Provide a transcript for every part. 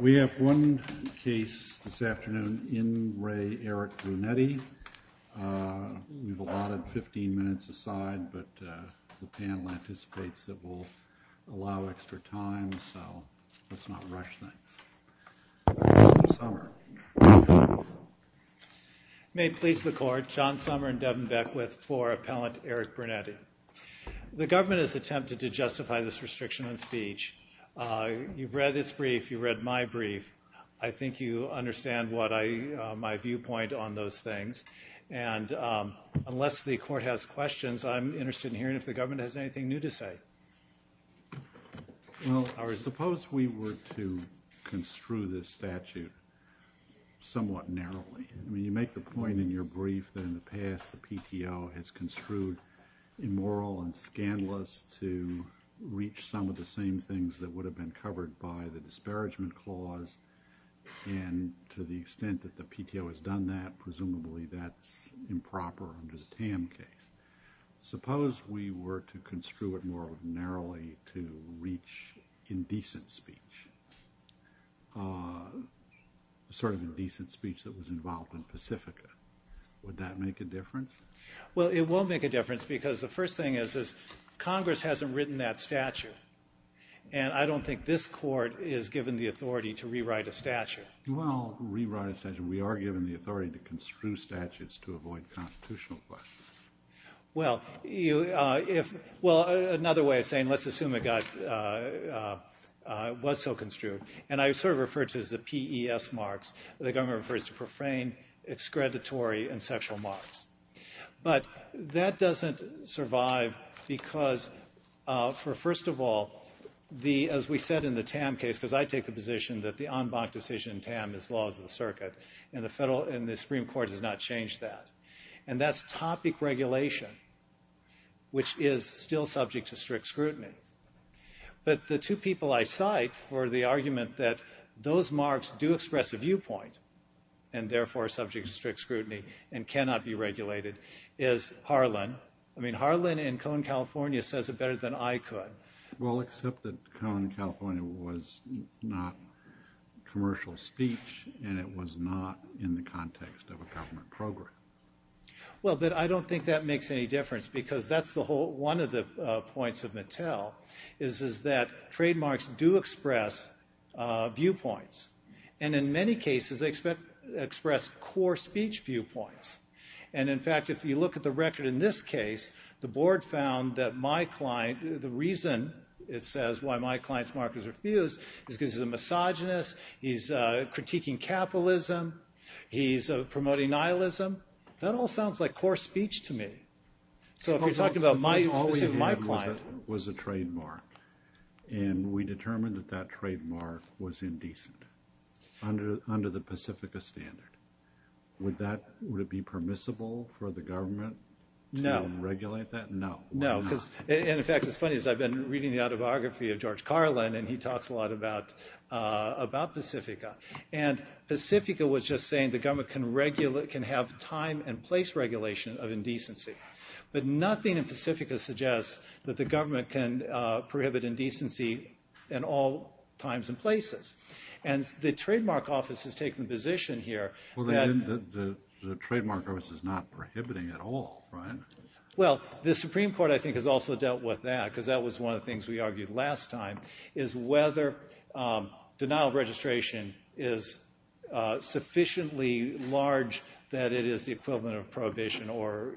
We have one case this afternoon in Re Erik Brunetti. We've allotted 15 minutes aside, but the panel anticipates that we'll allow extra time, so let's not rush things. John Sommer and Devin Beckwith for Appellant Erik Brunetti. The government has attempted to justify this restriction on speech. You've read its brief. You've read my brief. I think you understand my viewpoint on those things. Unless the court has questions, I'm interested in hearing if the government has anything new to say. Well, I suppose we were to construe this statute somewhat narrowly. I mean, you make the point in your brief that in the past the PTO has construed immoral and scandalous to reach some of the same things that would have been covered by the disparagement clause, and to the extent that the PTO has done that, presumably that's improper under the Tam case. Suppose we were to construe it more narrowly to reach indecent speech, sort of indecent speech that was involved in Pacifica. Would that make a difference? Well, it won't make a difference because the first thing is Congress hasn't written that statute, and I don't think this court is given the authority to rewrite a statute. You want to rewrite a statute, and we are given the authority to construe statutes to avoid constitutional questions. Well, another way of saying let's assume it was so construed, and I sort of refer to it as the PES marks. The government refers to profane, excreditory, and sexual marks. But that doesn't survive because, first of all, as we said in the Tam case, because I take the position that the en banc decision in Tam is laws of the circuit, and the Supreme Court has not changed that. And that's topic regulation, which is still subject to strict scrutiny. But the two people I cite for the argument that those marks do express a viewpoint, and therefore are subject to strict scrutiny and cannot be regulated, is Harlan. I mean, Harlan in Cone, California, says it better than I could. Well, except that Cone, California was not commercial speech, and it was not in the context of a government program. Well, but I don't think that makes any difference because that's one of the points of Mattel, is that trademarks do express viewpoints. And in many cases, they express core speech viewpoints. And in fact, if you look at the record in this case, the board found that my client, the reason it says why my client's markers are fused is because he's a misogynist, he's critiquing capitalism, he's promoting nihilism. That all sounds like core speech to me. So if you're talking about my client. And we determined that that trademark was indecent under the Pacifica standard. Would it be permissible for the government to regulate that? No. No. And in fact, it's funny because I've been reading the autobiography of George Carlin, and he talks a lot about Pacifica. And Pacifica was just saying the government can have time and place regulation of indecency. But nothing in Pacifica suggests that the government can prohibit indecency in all times and places. And the trademark office has taken a position here. Well, the trademark office is not prohibiting at all, right? Well, the Supreme Court, I think, has also dealt with that, because that was one of the things we argued last time, is whether denial of registration is sufficiently large that it is the equivalent of prohibition, or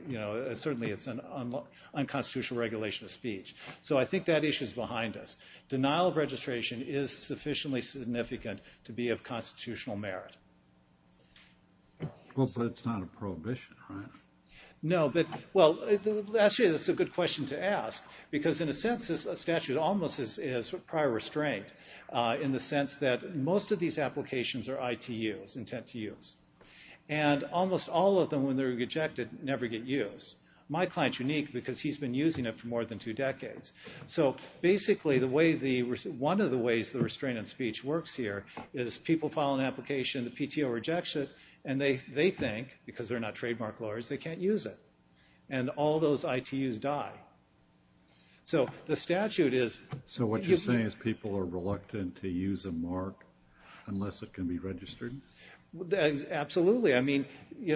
certainly it's an unconstitutional regulation of speech. So I think that issue is behind us. Denial of registration is sufficiently significant to be of constitutional merit. Well, but it's not a prohibition, right? No. Actually, that's a good question to ask, because in a sense this statute almost is prior restraint, in the sense that most of these applications are ITUs, intent to use. And almost all of them, when they're rejected, never get used. My client's unique because he's been using it for more than two decades. So basically, one of the ways the restraint on speech works here is people file an application, the PTO rejects it, and they think, because they're not trademark lawyers, they can't use it. And all those ITUs die. So the statute is... So what you're saying is people are reluctant to use a mark unless it can be registered? Absolutely. I mean, you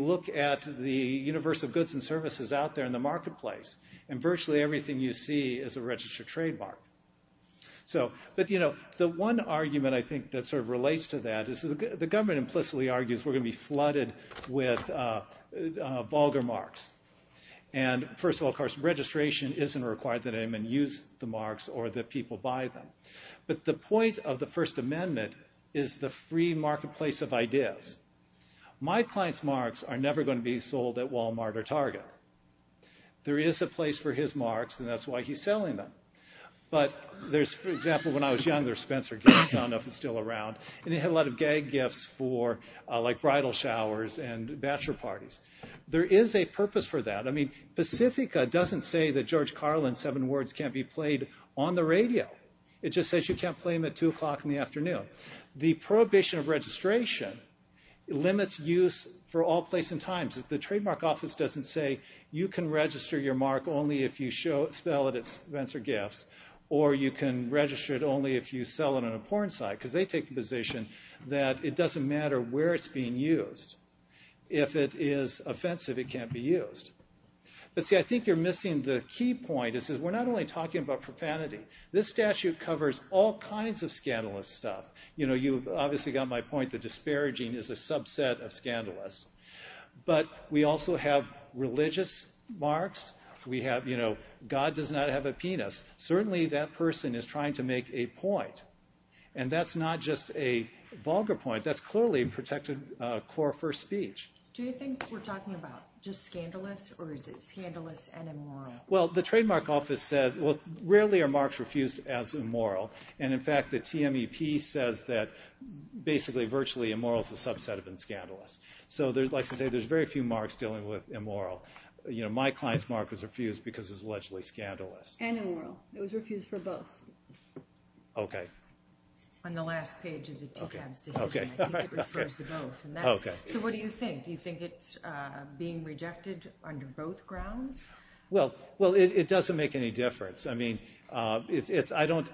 look at the universe of goods and services out there in the marketplace, and virtually everything you see is a registered trademark. But the one argument I think that sort of relates to that is the government implicitly argues we're going to be flooded with vulgar marks. And first of all, of course, registration isn't required that anyone use the marks or that people buy them. But the point of the First Amendment is the free marketplace of ideas. My client's marks are never going to be sold at Walmart or Target. There is a place for his marks, and that's why he's selling them. But there's, for example, when I was younger, Spencer gifts, I don't know if it's still around. And he had a lot of gag gifts for, like, bridal showers and bachelor parties. There is a purpose for that. I mean, Pacifica doesn't say that George Carlin's seven words can't be played on the radio. It just says you can't play them at 2 o'clock in the afternoon. The prohibition of registration limits use for all place and times. The Trademark Office doesn't say you can register your mark only if you spell it as Spencer Gifts, or you can register it only if you sell it on a porn site, because they take the position that it doesn't matter where it's being used. If it is offensive, it can't be used. But see, I think you're missing the key point. It says we're not only talking about profanity. This statute covers all kinds of scandalous stuff. You know, you've obviously got my point. The disparaging is a subset of scandalous. But we also have religious marks. We have, you know, God does not have a penis. Certainly that person is trying to make a point. And that's not just a vulgar point. That's clearly a protected core for speech. Do you think we're talking about just scandalous, or is it scandalous and immoral? Well, the Trademark Office says, well, rarely are marks refused as immoral. And, in fact, the TMEP says that basically virtually immoral is a subset of scandalous. So like I say, there's very few marks dealing with immoral. You know, my client's mark was refused because it was allegedly scandalous. And immoral. It was refused for both. Okay. On the last page of the TCAB's decision, I think it refers to both. So what do you think? Do you think it's being rejected under both grounds? Well, it doesn't make any difference. I mean, it's, I don't,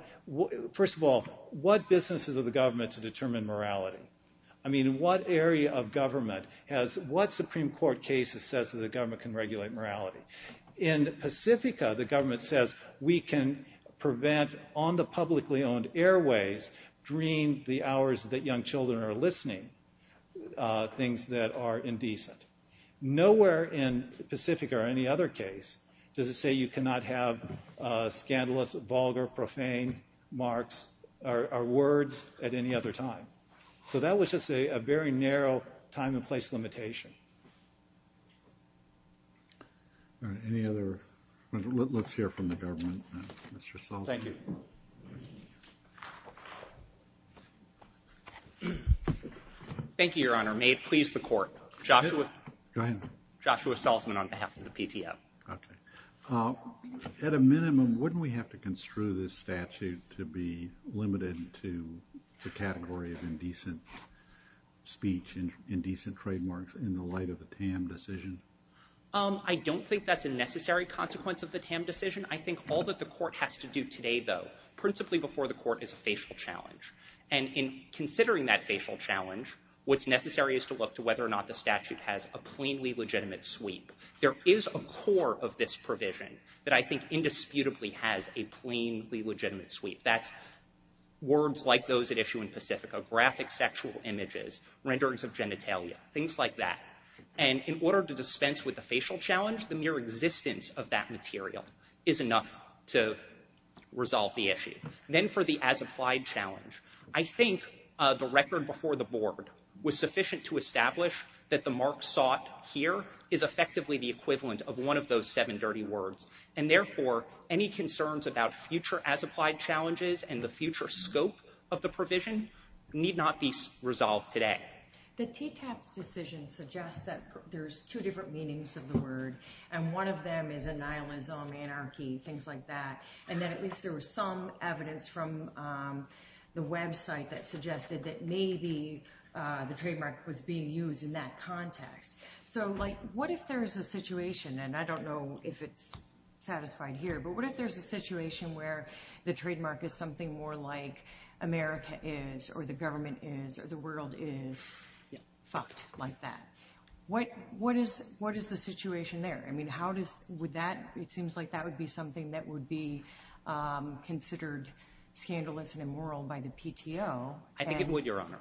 first of all, what business is it of the government to determine morality? I mean, what area of government has, what Supreme Court case says that the government can regulate morality? In Pacifica, the government says we can prevent on the publicly owned airways, dream the hours that young children are listening, things that are indecent. Nowhere in Pacifica or any other case does it say you cannot have scandalous, vulgar, profane marks or words at any other time. So that was just a very narrow time and place limitation. All right. Any other? Let's hear from the government. Thank you. Thank you, Your Honor. May it please the Court. Go ahead. Joshua Selzman on behalf of the PTO. Okay. At a minimum, wouldn't we have to construe this statute to be limited to the category of indecent speech and indecent trademarks in the light of the Tam decision? I don't think that's a necessary consequence of the Tam decision. I think all that the Court has to do today, though, principally before the Court, is a facial challenge. And in considering that facial challenge, what's necessary is to look to whether or not the statute has a plainly legitimate sweep. There is a core of this provision that I think indisputably has a plainly legitimate sweep. That's words like those at issue in Pacifica, graphic sexual images, renderings of genitalia, things like that. And in order to dispense with the facial challenge, the mere existence of that material is enough to resolve the issue. Then for the as-applied challenge, I think the record before the Board was sufficient to establish that the mark sought here is effectively the equivalent of one of those seven dirty words. And therefore, any concerns about future as-applied challenges and the future scope of the provision need not be resolved today. The TTAP's decision suggests that there's two different meanings of the word, and one of them is an nihilism, anarchy, things like that. And that at least there was some evidence from the website that suggested that maybe the trademark was being used in that context. So, like, what if there's a situation, and I don't know if it's satisfied here, but what if there's a situation where the trademark is something more like America is, or the government is, or the world is fucked like that? What is the situation there? I mean, how does – would that – it seems like that would be something that would be considered scandalous and immoral by the PTO. I think it would, Your Honor.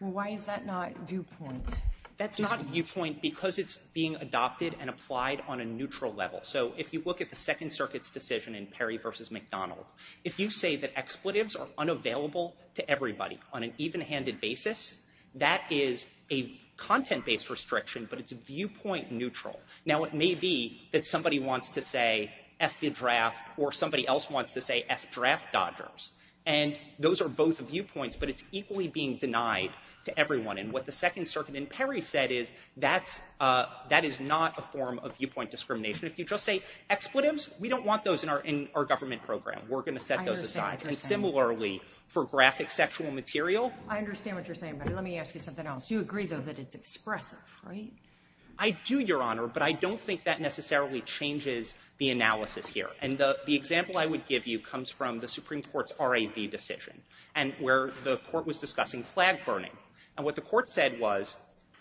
Well, why is that not viewpoint? That's not viewpoint because it's being adopted and applied on a neutral level. So if you look at the Second Circuit's decision in Perry v. McDonald, if you say that expletives are unavailable to everybody on an even-handed basis, that is a content-based restriction, but it's viewpoint neutral. Now, it may be that somebody wants to say F the draft or somebody else wants to say F draft dodgers, and those are both viewpoints, but it's equally being denied to everyone. And what the Second Circuit in Perry said is that is not a form of viewpoint discrimination. If you just say expletives, we don't want those in our government program. We're going to set those aside. I understand what you're saying. And similarly, for graphic sexual material – I understand what you're saying, but let me ask you something else. You agree, though, that it's expressive, right? I do, Your Honor, but I don't think that necessarily changes the analysis here. And the example I would give you comes from the Supreme Court's RAB decision where the court was discussing flag burning. And what the court said was,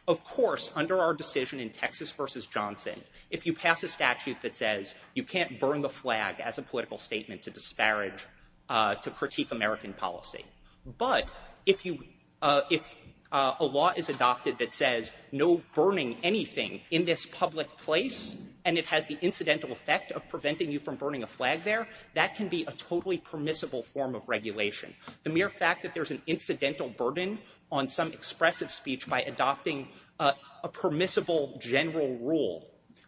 of course, under our decision in Texas v. Johnson, if you pass a statute that says you can't burn the flag as a political statement to disparage, to critique American policy, but if a law is adopted that says no burning anything in this public place and it has the incidental effect of preventing you from burning a flag there, that can be a totally permissible form of regulation. The mere fact that there's an incidental burden on some expressive speech by adopting a permissible general rule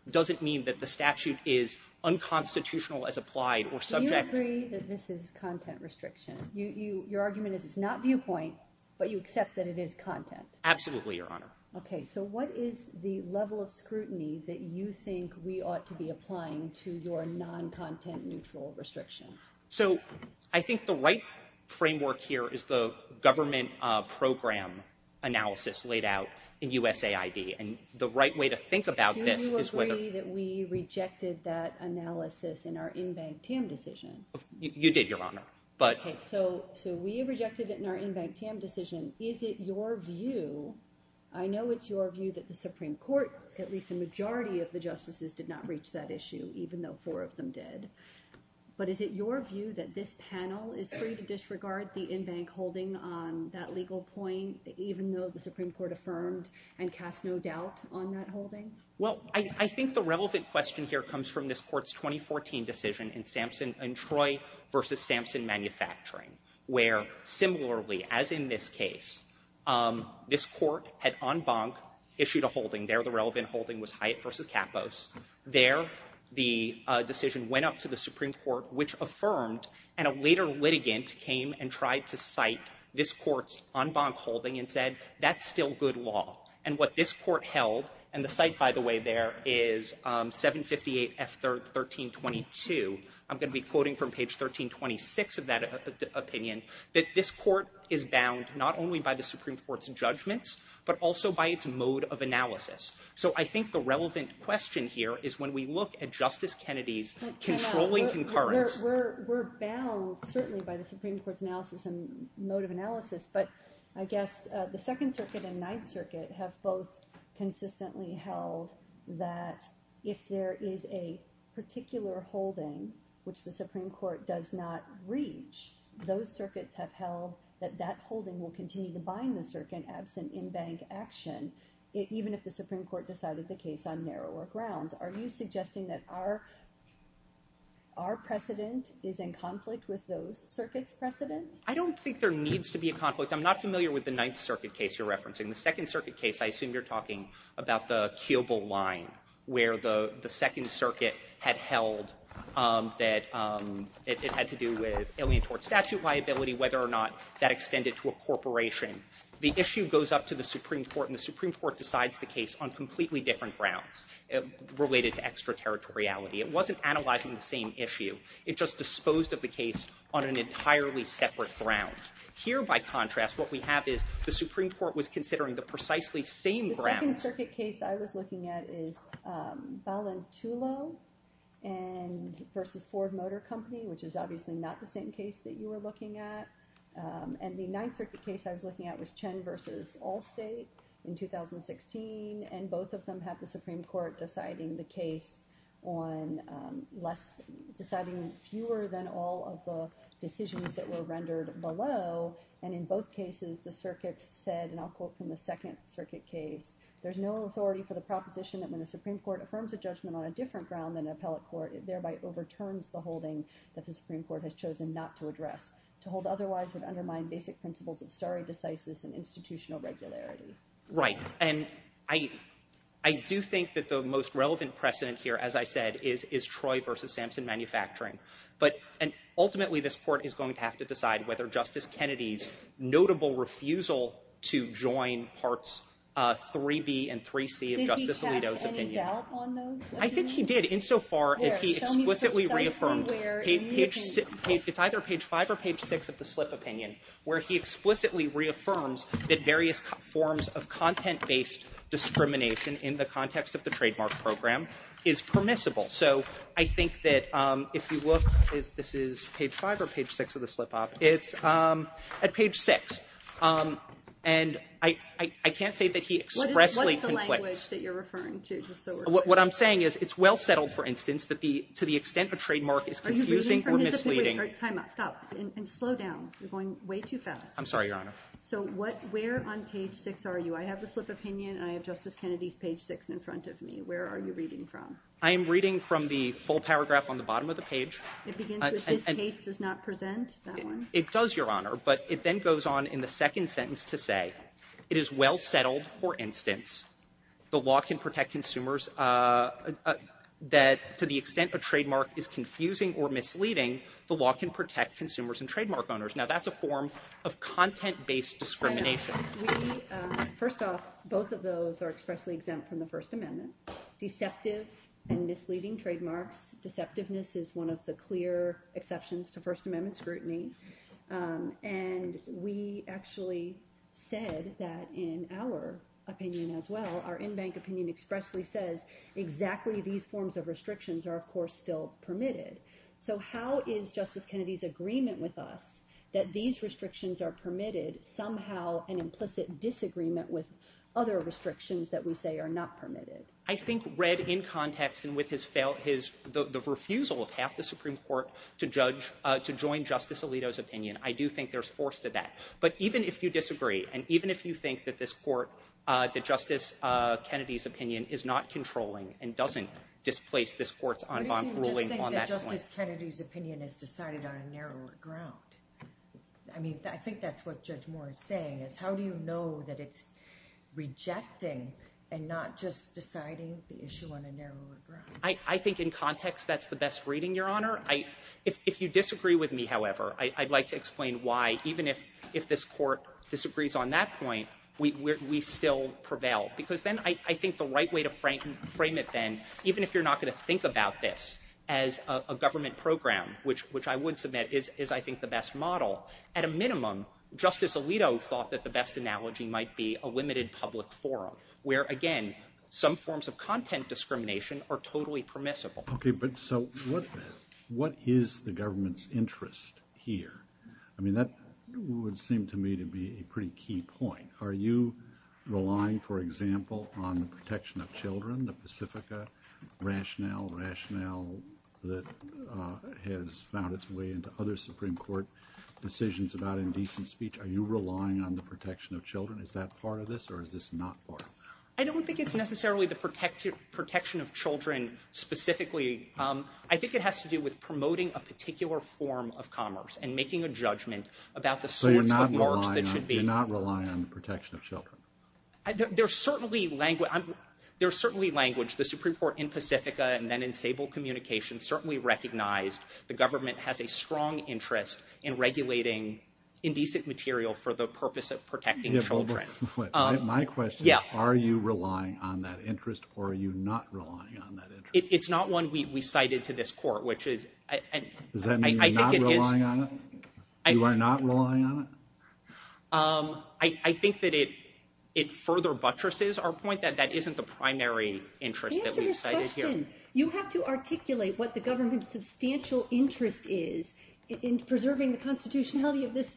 doesn't mean that the statute is unconstitutional as applied or subject – Do you agree that this is content restriction? Your argument is it's not viewpoint, but you accept that it is content. Absolutely, Your Honor. Okay. So what is the level of scrutiny that you think we ought to be applying to your non-content neutral restriction? So I think the right framework here is the government program analysis laid out in USAID. And the right way to think about this is whether – Do you agree that we rejected that analysis in our in-bank TAM decision? You did, Your Honor. Okay. So we rejected it in our in-bank TAM decision. Is it your view – I know it's your view that the Supreme Court, at least a majority of the justices, did not reach that issue, even though four of them did. But is it your view that this panel is free to disregard the in-bank holding on that legal point, even though the Supreme Court affirmed and cast no doubt on that holding? Well, I think the relevant question here comes from this Court's 2014 decision in Samson – in Troy v. Samson Manufacturing, where similarly, as in this case, this Court had en banc issued a holding. There the relevant holding was Hyatt v. Capos. There the decision went up to the Supreme Court, which affirmed, and a later litigant came and tried to cite this Court's en banc holding and said, that's still good law. And what this Court held – and the cite, by the way, there is 758 F. 1322. I'm going to be quoting from page 1326 of that opinion – that this Court is bound not only by the Supreme Court's judgments but also by its mode of analysis. So I think the relevant question here is when we look at Justice Kennedy's controlling concurrence – We're bound, certainly, by the Supreme Court's analysis and mode of analysis. But I guess the Second Circuit and Ninth Circuit have both consistently held that if there is a particular holding which the Supreme Court does not reach, those circuits have held that that holding will continue to bind the circuit absent en banc action, even if the Supreme Court decided the case on narrower grounds. Are you suggesting that our precedent is in conflict with those circuits' precedent? I don't think there needs to be a conflict. I'm not familiar with the Ninth Circuit case you're referencing. The Second Circuit case, I assume you're talking about the Kiobel line, where the Second Circuit had held that it had to do with alien tort statute liability, whether or not that extended to a corporation. The issue goes up to the Supreme Court, and the Supreme Court decides the case on completely different grounds related to extraterritoriality. It wasn't analyzing the same issue. It just disposed of the case on an entirely separate ground. Here, by contrast, what we have is the Supreme Court was considering the precisely same grounds. The Second Circuit case I was looking at is Ballantulo v. Ford Motor Company, which is obviously not the same case that you were looking at. The Ninth Circuit case I was looking at was Chen v. Allstate in 2016, and both of them have the Supreme Court deciding fewer than all of the decisions that were rendered below. In both cases, the circuits said, and I'll quote from the Second Circuit case, there's no authority for the proposition that when the Supreme Court affirms a judgment on a different ground than an appellate court, it thereby overturns the holding that the Supreme Court has chosen not to address. To hold otherwise would undermine basic principles of stare decisis and institutional regularity. Right, and I do think that the most relevant precedent here, as I said, is Troy v. Sampson Manufacturing. Ultimately, this Court is going to have to decide whether Justice Kennedy's notable refusal to join Parts 3B and 3C of Justice Alito's opinion. Did he cast any doubt on those? I think he did, insofar as he explicitly reaffirmed. It's either page 5 or page 6 of the slip opinion where he explicitly reaffirms that various forms of content-based discrimination in the context of the trademark program is permissible. So I think that if you look, this is page 5 or page 6 of the slip op, it's at page 6. And I can't say that he expressly concludes. What's the language that you're referring to? What I'm saying is it's well-settled, for instance, that to the extent a trademark is confusing or misleading. Are you reading her hand? Time out. Stop. And slow down. You're going way too fast. I'm sorry, Your Honor. So where on page 6 are you? I have the slip opinion and I have Justice Kennedy's page 6 in front of me. Where are you reading from? I am reading from the full paragraph on the bottom of the page. It begins with, this case does not present that one. It does, Your Honor. But it then goes on in the second sentence to say, it is well-settled, for instance, the law can protect consumers, that to the extent a trademark is confusing or misleading, the law can protect consumers and trademark owners. Now, that's a form of content-based discrimination. First off, both of those are expressly exempt from the First Amendment. Deceptive and misleading trademarks, deceptiveness is one of the clear exceptions to First Amendment scrutiny. And we actually said that in our opinion as well, our in-bank opinion expressly says, exactly these forms of restrictions are, of course, still permitted. So how is Justice Kennedy's agreement with us that these restrictions are permitted, somehow an implicit disagreement with other restrictions that we say are not permitted? I think read in context and with the refusal of half the Supreme Court to join Justice Alito's opinion, I do think there's force to that. But even if you disagree, and even if you think that this Court, that Justice Kennedy's opinion is not controlling and doesn't displace this Court's en banc ruling on that point. What if you just think that Justice Kennedy's opinion is decided on a narrower ground? I mean, I think that's what Judge Moore is saying, is how do you know that it's rejecting and not just deciding the issue on a narrower ground? I think in context that's the best reading, Your Honor. If you disagree with me, however, I'd like to explain why, even if this Court disagrees on that point, we still prevail. Because then I think the right way to frame it then, even if you're not going to think about this as a government program, which I would submit is, I think, the best model, at a minimum, Justice Alito thought that the best analogy might be a limited public forum, where, again, some forms of content discrimination are totally permissible. Okay, but so what is the government's interest here? I mean, that would seem to me to be a pretty key point. Are you relying, for example, on the protection of children, the Pacifica rationale, that has found its way into other Supreme Court decisions about indecent speech? Are you relying on the protection of children? Is that part of this, or is this not part of it? I don't think it's necessarily the protection of children specifically. I think it has to do with promoting a particular form of commerce and making a judgment about the sorts of marks that should be. So you're not relying on the protection of children? There's certainly language. The Supreme Court in Pacifica and then in Sable Communications certainly recognized the government has a strong interest in regulating indecent material for the purpose of protecting children. My question is, are you relying on that interest, or are you not relying on that interest? It's not one we cited to this court, which is— Does that mean you're not relying on it? You are not relying on it? I think that it further buttresses our point that that isn't the primary interest that we've cited here. Answer the question. You have to articulate what the government's substantial interest is in preserving the constitutionality of this.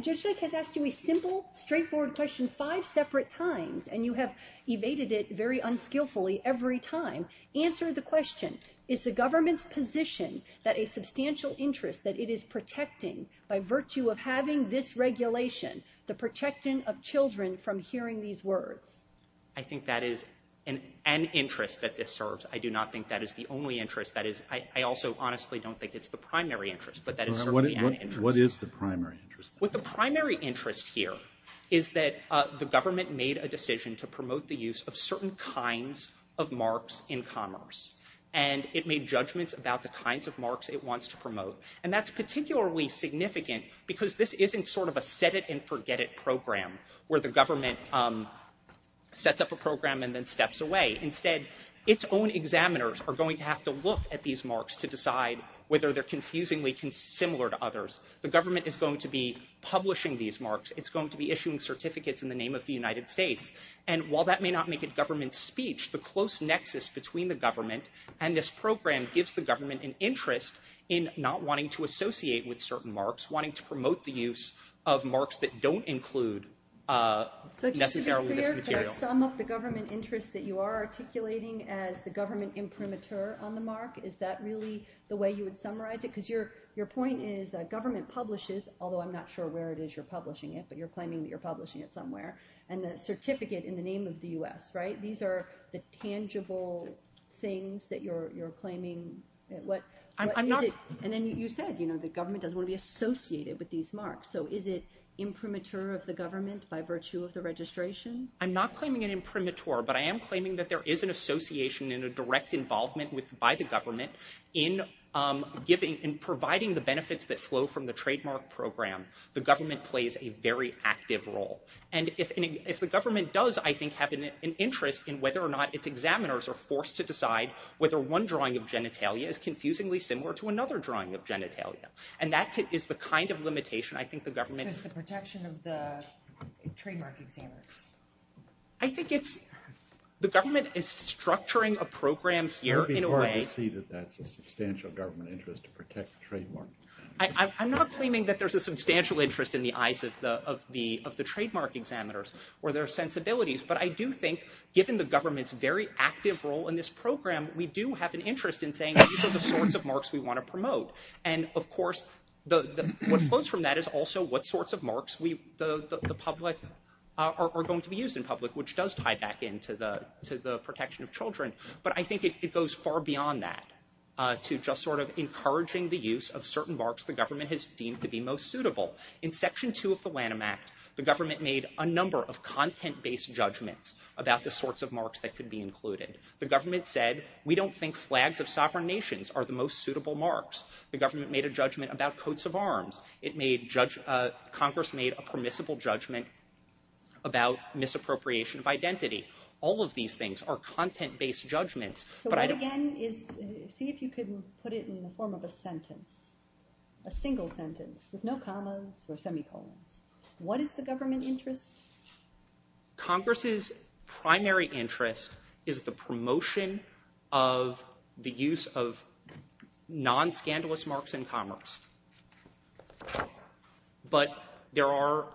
Judge Jake has asked you a simple, straightforward question five separate times, and you have evaded it very unskillfully every time. Answer the question. Is the government's position that a substantial interest that it is protecting by virtue of having this regulation the protecting of children from hearing these words? I think that is an interest that this serves. I do not think that is the only interest. I also honestly don't think it's the primary interest, but that is certainly an interest. What is the primary interest? What the primary interest here is that the government made a decision to promote the use of certain kinds of marks in commerce, and it made judgments about the kinds of marks it wants to promote. And that's particularly significant because this isn't sort of a set-it-and-forget-it program where the government sets up a program and then steps away. Instead, its own examiners are going to have to look at these marks to decide whether they're confusingly similar to others. The government is going to be publishing these marks. It's going to be issuing certificates in the name of the United States. And while that may not make it government speech, the close nexus between the government and this program gives the government an interest in not wanting to associate with certain marks, wanting to promote the use of marks that don't include necessarily this material. So just to be clear, the sum of the government interest that you are articulating as the government imprimatur on the mark, is that really the way you would summarize it? Because your point is that government publishes, although I'm not sure where it is you're publishing it, but you're claiming that you're publishing it somewhere, and the certificate in the name of the U.S., right? So these are the tangible things that you're claiming. And then you said the government doesn't want to be associated with these marks. So is it imprimatur of the government by virtue of the registration? I'm not claiming an imprimatur, but I am claiming that there is an association and a direct involvement by the government in providing the benefits that flow from the trademark program. The government plays a very active role. And if the government does, I think, have an interest in whether or not its examiners are forced to decide whether one drawing of genitalia is confusingly similar to another drawing of genitalia. And that is the kind of limitation I think the government... So it's the protection of the trademark examiners. I think it's... the government is structuring a program here in a way... It would be hard to see that that's a substantial government interest to protect trademark examiners. I'm not claiming that there's a substantial interest in the eyes of the trademark examiners or their sensibilities. But I do think, given the government's very active role in this program, we do have an interest in saying these are the sorts of marks we want to promote. And, of course, what flows from that is also what sorts of marks the public... are going to be used in public, which does tie back into the protection of children. But I think it goes far beyond that to just sort of encouraging the use of certain marks the government has deemed to be most suitable. In Section 2 of the Lanham Act, the government made a number of content-based judgments about the sorts of marks that could be included. The government said, we don't think flags of sovereign nations are the most suitable marks. The government made a judgment about coats of arms. It made... Congress made a permissible judgment about misappropriation of identity. All of these things are content-based judgments. So what, again, is... See if you can put it in the form of a sentence. A single sentence with no commas or semicolons. What is the government interest? Congress's primary interest is the promotion of the use of non-scandalous marks in commerce. But there are...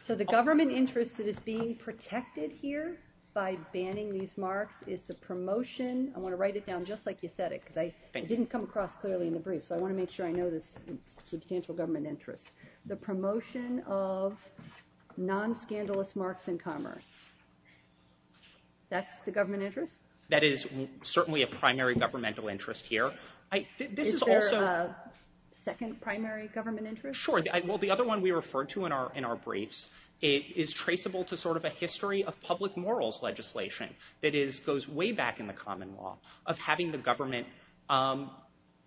So the government interest that is being protected here by banning these marks is the promotion... I want to write it down just like you said it, because it didn't come across clearly in the brief. So I want to make sure I know this substantial government interest. The promotion of non-scandalous marks in commerce. That's the government interest? That is certainly a primary governmental interest here. Is there a second primary government interest? Sure. Well, the other one we referred to in our briefs is traceable to sort of a history of public morals legislation that goes way back in the common law of having the government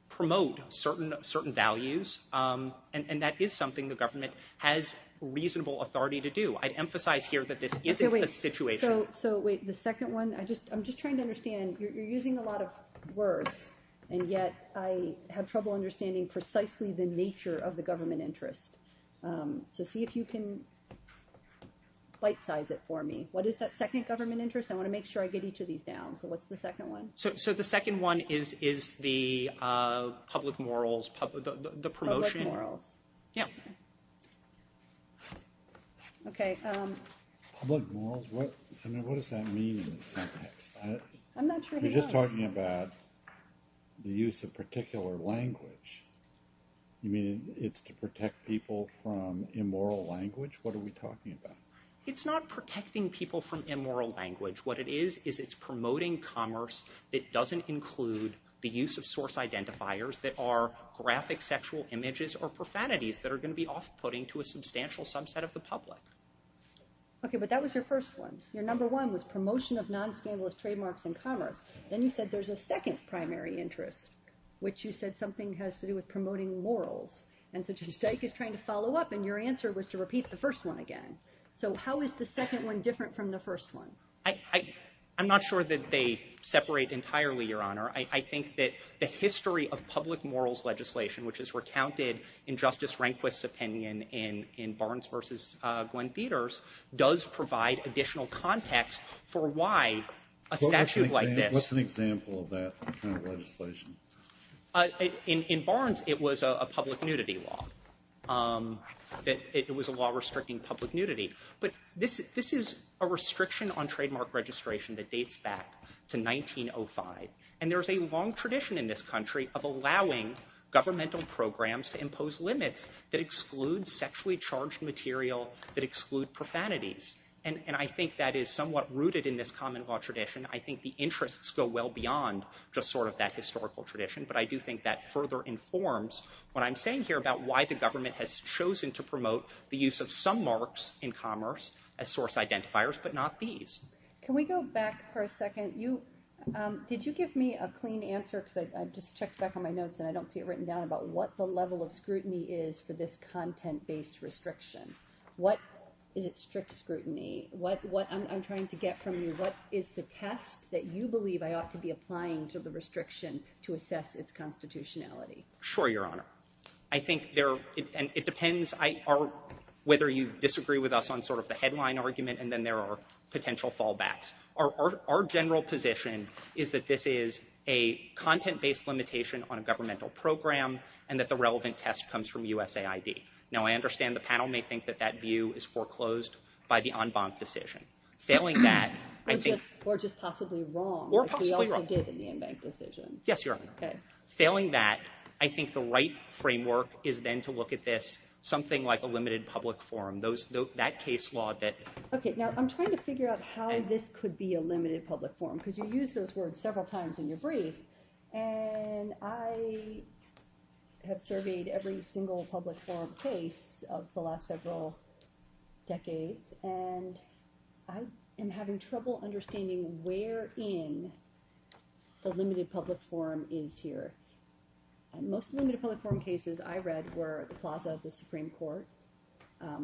promote certain values. And that is something the government has reasonable authority to do. I'd emphasize here that this isn't a situation... So wait, the second one... I'm just trying to understand. You're using a lot of words, and yet I have trouble understanding precisely the nature of the government interest. So see if you can bite-size it for me. What is that second government interest? I want to make sure I get each of these down. So what's the second one? So the second one is the public morals, the promotion... Public morals. Yeah. Okay. Public morals? I mean, what does that mean in this context? I'm not sure who knows. You're just talking about the use of particular language. You mean it's to protect people from immoral language? What are we talking about? It's not protecting people from immoral language. What it is is it's promoting commerce that doesn't include the use of source identifiers that are graphic sexual images or profanities that are going to be off-putting to a substantial subset of the public. Okay, but that was your first one. Your number one was promotion of non-scandalous trademarks in commerce. Then you said there's a second primary interest, which you said something has to do with promoting morals. And so just like he's trying to follow up, and your answer was to repeat the first one again. So how is the second one different from the first one? I'm not sure that they separate entirely, Your Honor. I think that the history of public morals legislation, which is recounted in Justice Rehnquist's opinion in Barnes v. Glenn Theaters, does provide additional context for why a statute like this... In Barnes, it was a public nudity law. It was a law restricting public nudity. But this is a restriction on trademark registration that dates back to 1905. And there's a long tradition in this country of allowing governmental programs to impose limits that exclude sexually charged material, that exclude profanities. And I think that is somewhat rooted in this common law tradition. I think the interests go well beyond just sort of that historical tradition. But I do think that further informs what I'm saying here about why the government has chosen to promote the use of some marks in commerce as source identifiers, but not these. Can we go back for a second? Did you give me a clean answer, because I just checked back on my notes, and I don't see it written down, about what the level of scrutiny is for this content-based restriction? What is it strict scrutiny? What I'm trying to get from you, what is the test that you believe I ought to be applying to the restriction to assess its constitutionality? Sure, Your Honor. I think there are, and it depends, whether you disagree with us on sort of the headline argument, and then there are potential fallbacks. Our general position is that this is a content-based limitation on a governmental program, and that the relevant test comes from USAID. Now, I understand the panel may think that that view is foreclosed by the en banc decision. Failing that, I think... Or just possibly wrong. Or possibly wrong. Like we always did in the en banc decision. Yes, Your Honor. Failing that, I think the right framework is then to look at this, something like a limited public forum. That case law that... Okay, now, I'm trying to figure out how this could be a limited public forum, because you used those words several times in your brief, and I have surveyed every single public forum case of the last several decades, and I am having trouble understanding where in the limited public forum is here. Most limited public forum cases I read were the plaza of the Supreme Court,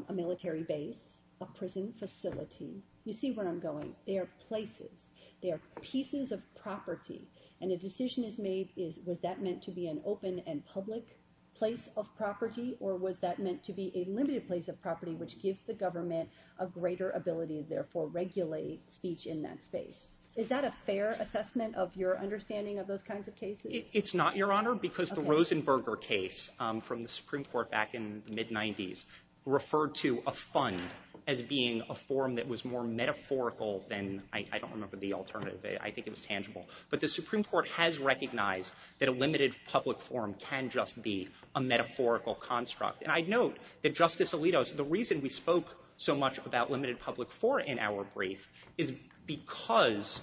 a military base, a prison facility. You see where I'm going. They are places. They are pieces of property, and a decision is made, was that meant to be an open and public place of property, or was that meant to be a limited place of property which gives the government a greater ability to therefore regulate speech in that space? Is that a fair assessment of your understanding of those kinds of cases? It's not, Your Honor, because the Rosenberger case from the Supreme Court back in the mid-'90s referred to a fund as being a forum that was more metaphorical than... I don't remember the alternative. I think it was tangible. But the Supreme Court has recognized that a limited public forum can just be a metaphorical construct. And I note that Justice Alito... The reason we spoke so much about limited public forum in our brief is because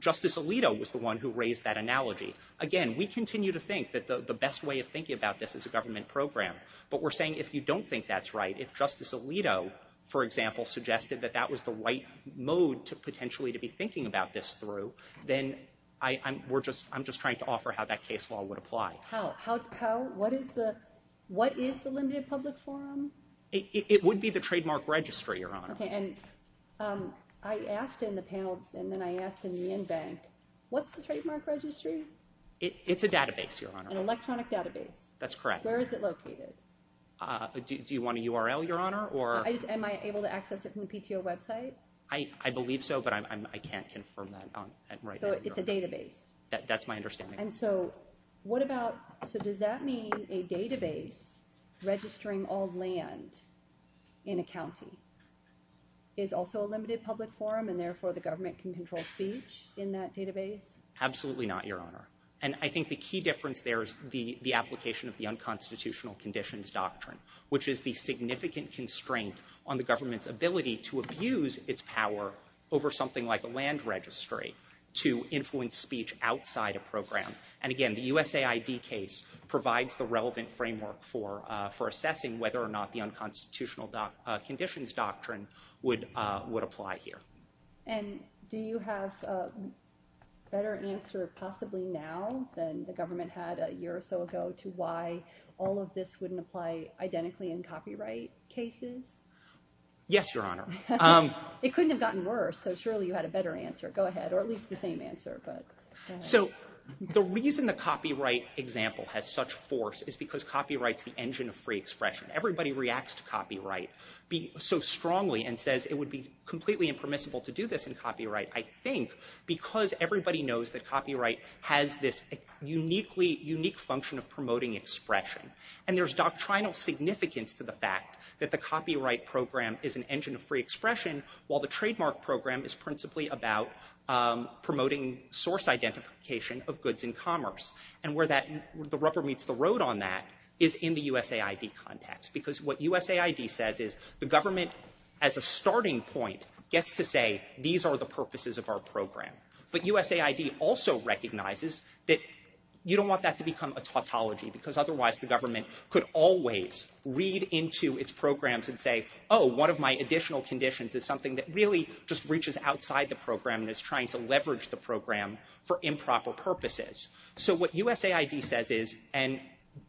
Justice Alito was the one who raised that analogy. Again, we continue to think that the best way of thinking about this is a government program. But we're saying if you don't think that's right, if Justice Alito, for example, suggested that that was the right mode potentially to be thinking about this through, then I'm just trying to offer how that case law would apply. How? What is the limited public forum? It would be the trademark registry, Your Honor. Okay, and I asked in the panel, and then I asked in the in-bank, what's the trademark registry? It's a database, Your Honor. An electronic database. That's correct. Where is it located? Do you want a URL, Your Honor? Am I able to access it from the PTO website? I believe so, but I can't confirm that right now. So it's a database? That's my understanding. And so what about... So does that mean a database registering all land in a county is also a limited public forum, and therefore the government can control speech in that database? Absolutely not, Your Honor. And I think the key difference there is the application of the unconstitutional conditions doctrine, which is the significant constraint on the government's ability to abuse its power over something like a land registry to influence speech outside a program. And again, the USAID case provides the relevant framework for assessing whether or not the unconstitutional conditions doctrine would apply here. And do you have a better answer, possibly now, than the government had a year or so ago to why all of this wouldn't apply identically in copyright cases? Yes, Your Honor. It couldn't have gotten worse, so surely you had a better answer. Go ahead, or at least the same answer. So the reason the copyright example has such force is because copyright's the engine of free expression. Everybody reacts to copyright so strongly and says it would be completely impermissible to do this in copyright, I think, because everybody knows that copyright has this unique function of promoting expression. And there's doctrinal significance to the fact that the copyright program is an engine of free expression, while the trademark program is principally about promoting source identification of goods and commerce. And where the rubber meets the road on that is in the USAID context, because what USAID says is the government, as a starting point, gets to say, these are the purposes of our program. But USAID also recognizes that you don't want that to become a tautology, because otherwise the government could always read into its programs and say, oh, one of my additional conditions is something that really just reaches outside the program and is trying to leverage the program for improper purposes. So what USAID says is, and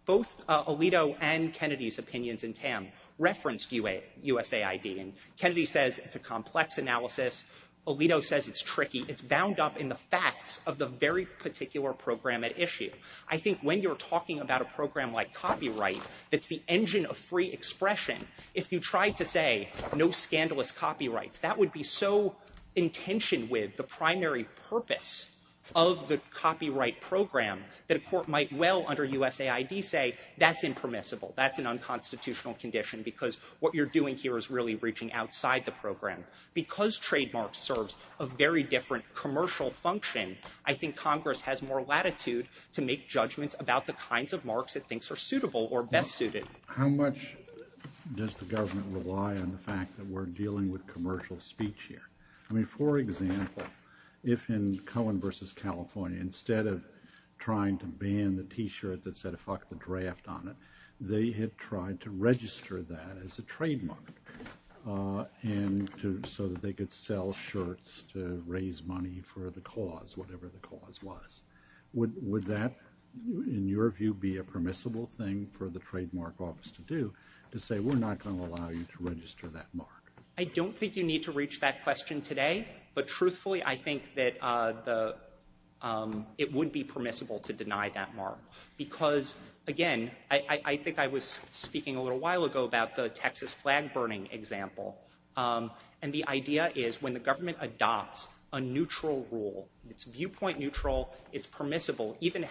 both Alito and Kennedy's opinions in TAM reference USAID, and Kennedy says it's a complex analysis. Alito says it's tricky. It's bound up in the facts of the very particular program at issue. I think when you're talking about a program like copyright that's the engine of free expression, if you try to say no scandalous copyrights, that would be so in tension with the primary purpose of the copyright program that a court might well under USAID say, that's impermissible, that's an unconstitutional condition because what you're doing here is really reaching outside the program. Because trademark serves a very different commercial function, I think Congress has more latitude to make judgments about the kinds of marks it thinks are suitable or best suited. How much does the government rely on the fact that we're dealing with commercial speech here? I mean, for example, if in Cohen v. California, instead of trying to ban the T-shirt that said, fuck the draft on it, they had tried to register that as a trademark so that they could sell shirts to raise money for the cause, whatever the cause was. Would that, in your view, be a permissible thing for the trademark office to do to say we're not gonna allow you to register that mark? I don't think you need to reach that question today, but truthfully, I think that it would be permissible to deny that mark because, again, I think I was speaking a little while ago about the Texas flag burning example. And the idea is when the government adopts a neutral rule, it's viewpoint neutral, it's permissible, even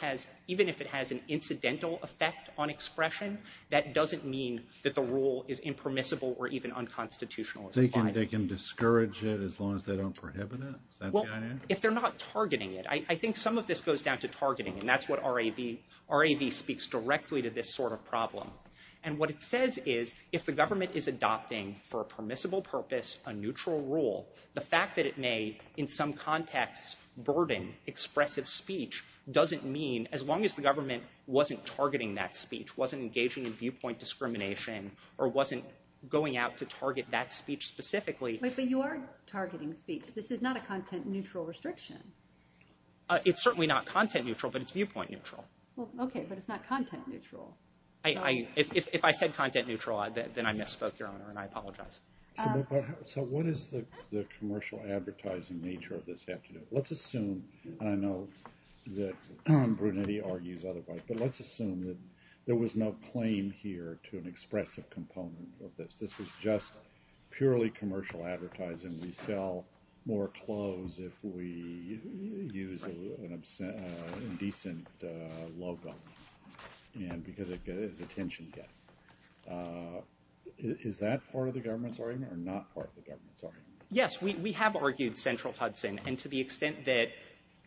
if it has an incidental effect on expression, that doesn't mean that the rule is impermissible or even unconstitutional. So they can discourage it as long as they don't prohibit it? Well, if they're not targeting it. I think some of this goes down to targeting, and that's what RAB speaks directly to this sort of problem. And what it says is if the government is adopting, for a permissible purpose, a neutral rule, the fact that it may, in some contexts, burden expressive speech doesn't mean, as long as the government wasn't targeting that speech, wasn't engaging in viewpoint discrimination, or wasn't going out to target that speech specifically. Wait, but you are targeting speech. This is not a content-neutral restriction. It's certainly not content-neutral, but it's viewpoint neutral. Well, okay, but it's not content-neutral. If I said content-neutral, then I misspoke, Your Honor, and I apologize. So what does the commercial advertising nature of this have to do? Let's assume, and I know that Brunetti argues otherwise, but let's assume that there was no claim here to an expressive component of this. This was just purely commercial advertising. We sell more clothes if we use an indecent logo, because it is attention-getting. Is that part of the government's argument, or not part of the government's argument? Yes, we have argued central Hudson, and to the extent that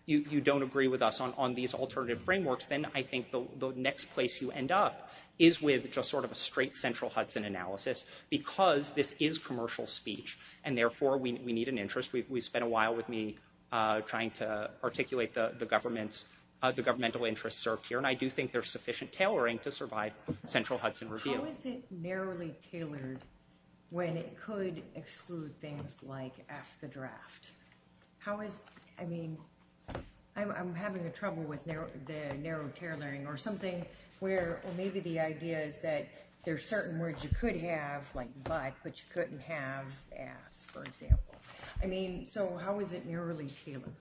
you don't agree with us on these alternative frameworks, then I think the next place you end up is with just sort of a straight central Hudson analysis, because this is commercial speech, and therefore, we need an interest. We spent a while with me trying to articulate the governmental interests served here, and I do think there's sufficient tailoring to survive central Hudson review. How is it narrowly tailored when it could exclude things like F the draft? How is, I mean, I'm having trouble with the narrow tailoring, or something where, or maybe the idea is that there's certain words you could have, like but, but you couldn't have as, for example. I mean, so how is it narrowly tailored?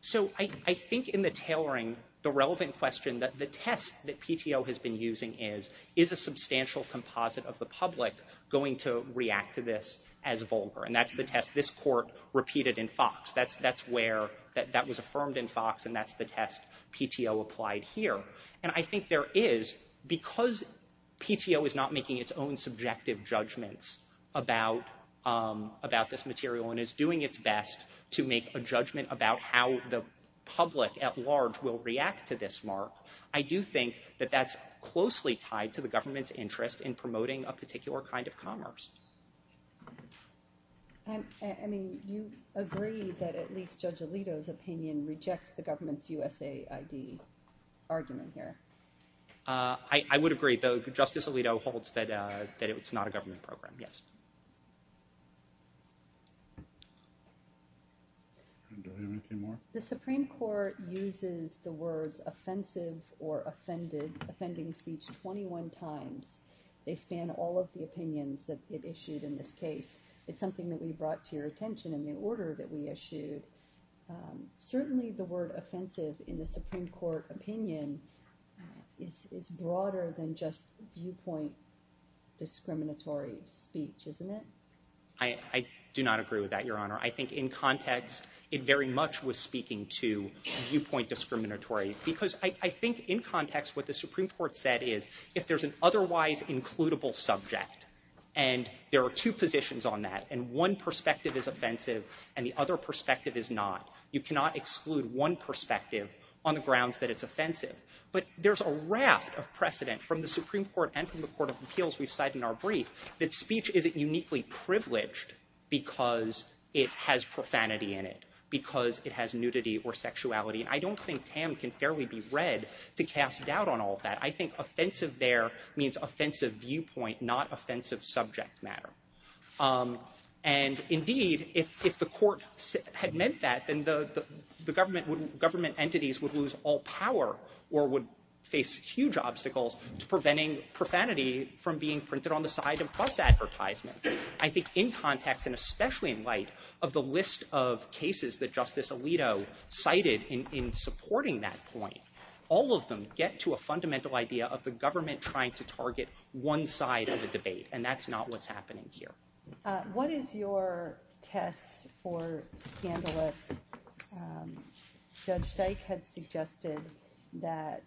So I think in the tailoring, the relevant question, the test that PTO has been using is, is a substantial composite of the public going to react to this as vulgar, and that's the test this court repeated in Fox. That's where, that was affirmed in Fox, and that's the test PTO applied here, and I think there is, because PTO is not making its own subjective judgments about this material, and is doing its best to make a judgment about how the public at large will react to this mark, I do think that that's closely tied to the government's interest in promoting a particular kind of commerce. I mean, do you agree that at least Judge Alito's opinion rejects the government's USAID argument here? I would agree, though Justice Alito holds that it's not a government program, yes. Do we have anything more? The Supreme Court uses the words offensive or offended, offending speech 21 times. They span all of the opinions that it issued in this case. It's something that we brought to your attention in the order that we issued. Certainly the word offensive in the Supreme Court opinion is broader than just viewpoint discriminatory speech, isn't it? I do not agree with that, Your Honor. I think in context, it very much was speaking to viewpoint discriminatory, because I think in context, what the Supreme Court said is, if there's an otherwise includable subject, and there are two positions on that, and one perspective is offensive and the other perspective is not, you cannot exclude one perspective on the grounds that it's offensive. But there's a raft of precedent from the Supreme Court and from the Court of Appeals we've cited in our brief, that speech isn't uniquely privileged because it has profanity in it, because it has nudity or sexuality. And I don't think Tam can fairly be read to cast doubt on all of that. I think offensive there means offensive viewpoint, not offensive subject matter. And indeed, if the Court had meant that, then the government entities would lose all power or would face huge obstacles to preventing profanity from being printed on the side of press advertisements. I think in context, and especially in light of the list of cases that Justice Alito cited in supporting that point, all of them get to a fundamental idea of the government trying to target one side of the debate, and that's not what's happening here. What is your test for scandalous... Judge Dyke had suggested that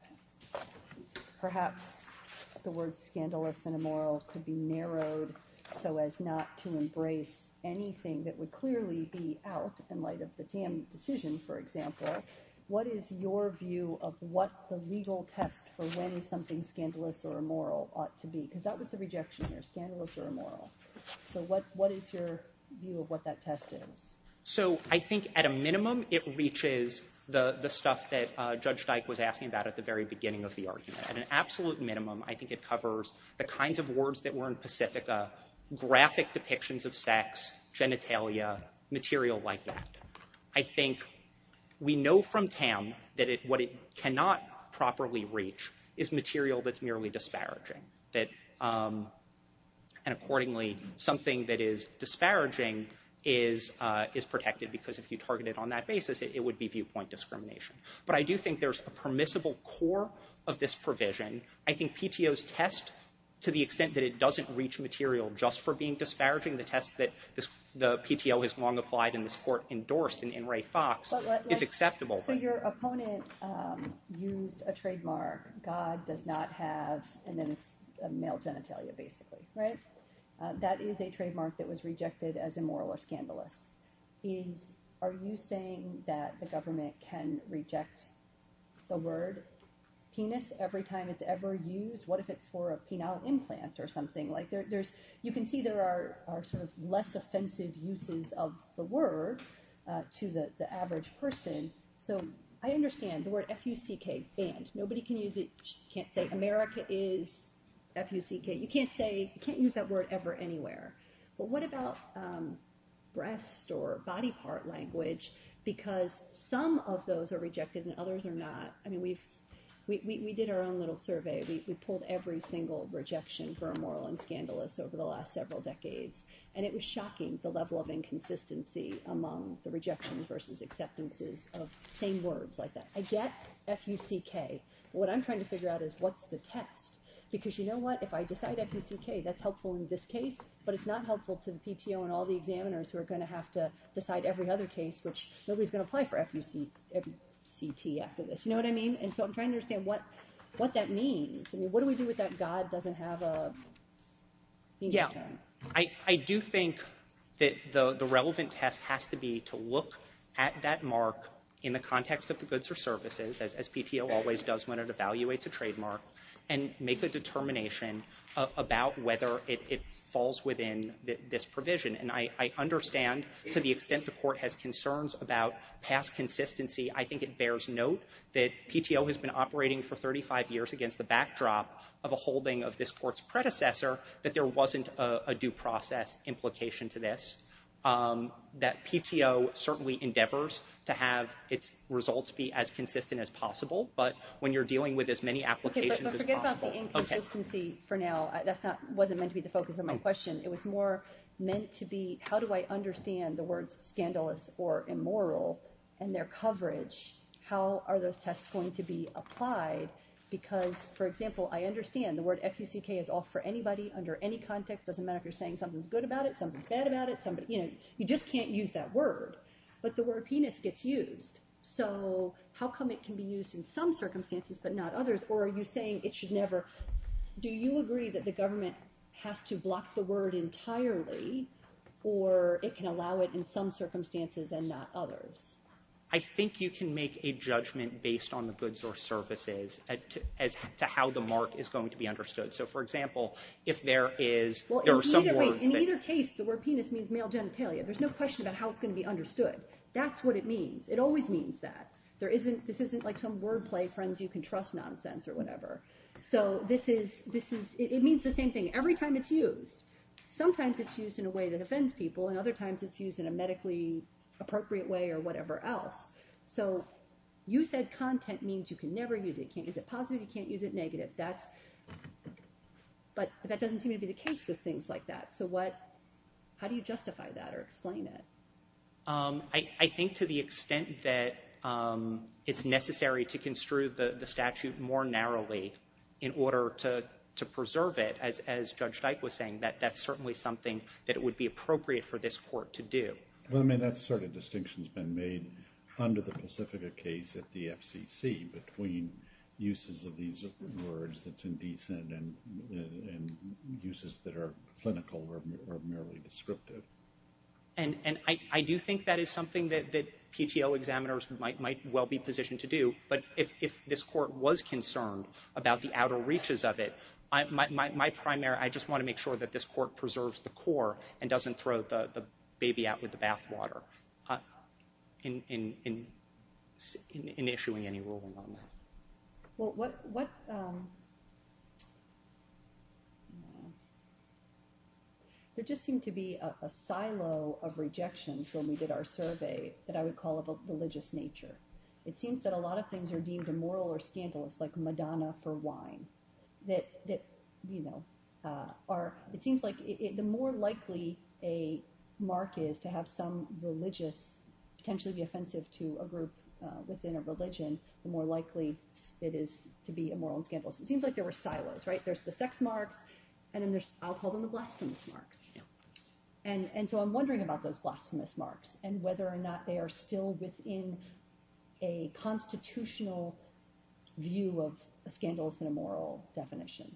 perhaps the word scandalous and immoral could be narrowed so as not to embrace anything that would clearly be out in light of the Tam decision, for example. What is your view of what the legal test for when something is scandalous or immoral ought to be? Because that was the rejection here, scandalous or immoral. So what is your view of what that test is? So I think at a minimum it reaches the stuff that Judge Dyke was asking about at the very beginning of the argument. At an absolute minimum, I think it covers the kinds of words that were in Pacifica, graphic depictions of sex, genitalia, material like that. I think we know from Tam that what it cannot properly reach is material that's merely disparaging. And accordingly, something that is disparaging is protected because if you target it on that basis it would be viewpoint discrimination. But I do think there's a permissible core of this provision. I think PTO's test, to the extent that it doesn't reach material just for being disparaging, the test that the PTO has long applied and this court endorsed in Ray Fox is acceptable. So your opponent used a trademark God does not have and then it's a male genitalia basically, right? That is a trademark that was rejected as immoral or scandalous. Are you saying that the government can reject the word penis every time it's ever used? What if it's for a penile implant or something? You can see there are less offensive uses of the word to the average person. I understand the word F-U-C-K banned. Nobody can use it. America is F-U-C-K. You can't use that word ever anywhere. But what about breast or body part language because some of those are rejected and others are not? We did our own little survey. We pulled every single rejection for immoral and scandalous over the last several decades and it was shocking the level of inconsistency among the rejections versus acceptances of same words like that. I get F-U-C-K but what I'm trying to figure out is what's the test? Because you know what? If I decide F-U-C-K, that's helpful in this case but it's not helpful to the PTO and all the examiners who are going to have to decide every other case which nobody's going to apply for F-U-C-T after this. You know what I mean? And so I'm trying to understand what that means. What do we do if that God doesn't have a finger in his hand? I do think that the relevant test has to be to look at that mark in the context of the goods or services as PTO always does when it evaluates a trademark and make a determination about whether it falls within this provision and I understand to the extent the court has concerns about past consistency, I think it bears note that PTO has been operating for 35 years against the backdrop of a holding of this court's predecessor that there wasn't a due process implication to this. That PTO certainly endeavors to have its results be as consistent as possible but when you're dealing with as many applications as possible... But forget about the inconsistency for now. That wasn't meant to be the focus of my question. It was more meant to be how do I understand the words scandalous or immoral and their coverage? How are those tests going to be applied? Because for example I understand the word F-U-C-K is off for anybody under any context. Doesn't matter if you're saying something's good about it, something's bad about it you just can't use that word but the word penis gets used so how come it can be used in some circumstances but not others or are you saying it should never... Do you agree that the government has to block the word entirely or it can allow it in some circumstances and not others? I think you can make a judgment based on the goods or services as to how the mark is going to be understood. So for example if there is... In either case the word penis means male genitalia. There's no question about how it's going to be understood. That's what it means. It always means that. This isn't like some wordplay friends you can trust nonsense or whatever. So this is... It means the same thing. Every time it's used, sometimes it's used in a medically appropriate way or whatever else. So you said content means you can never use it. You can't use it positive, you can't use it negative. That's... But that doesn't seem to be the case with things like that. So what... How do you justify that or explain it? I think to the extent that it's necessary to construe the statute more narrowly in order to preserve it as Judge Dyke was saying that that's certainly something that it would be appropriate for this Court to do. Well I mean that sort of distinction has been made under the Pacifica case at the FCC between uses of these words that's indecent and uses that are clinical or merely descriptive. And I do think that is something that PTO examiners might well be positioned to do but if this Court was concerned about the outer reaches of it, my primary... My primary concern would be to make sure that this Court preserves the core and doesn't throw the baby out with the bath water in issuing any ruling on that. Well what... There just seemed to be a silo of rejections when we did our survey that I would call of a religious nature. It seems that a lot of things are deemed immoral or scandalous like Madonna for wine that you know are... It seems like the more likely a mark is to have some religious potentially be offensive to a group within a religion, the more likely it is to be immoral and scandalous. It seems like there were silos, right? There's the sex marks and then there's I'll call them the blasphemous marks. And so I'm wondering about those blasphemous marks and whether or not they are still within a constitutional view of scandalous and immoral definition.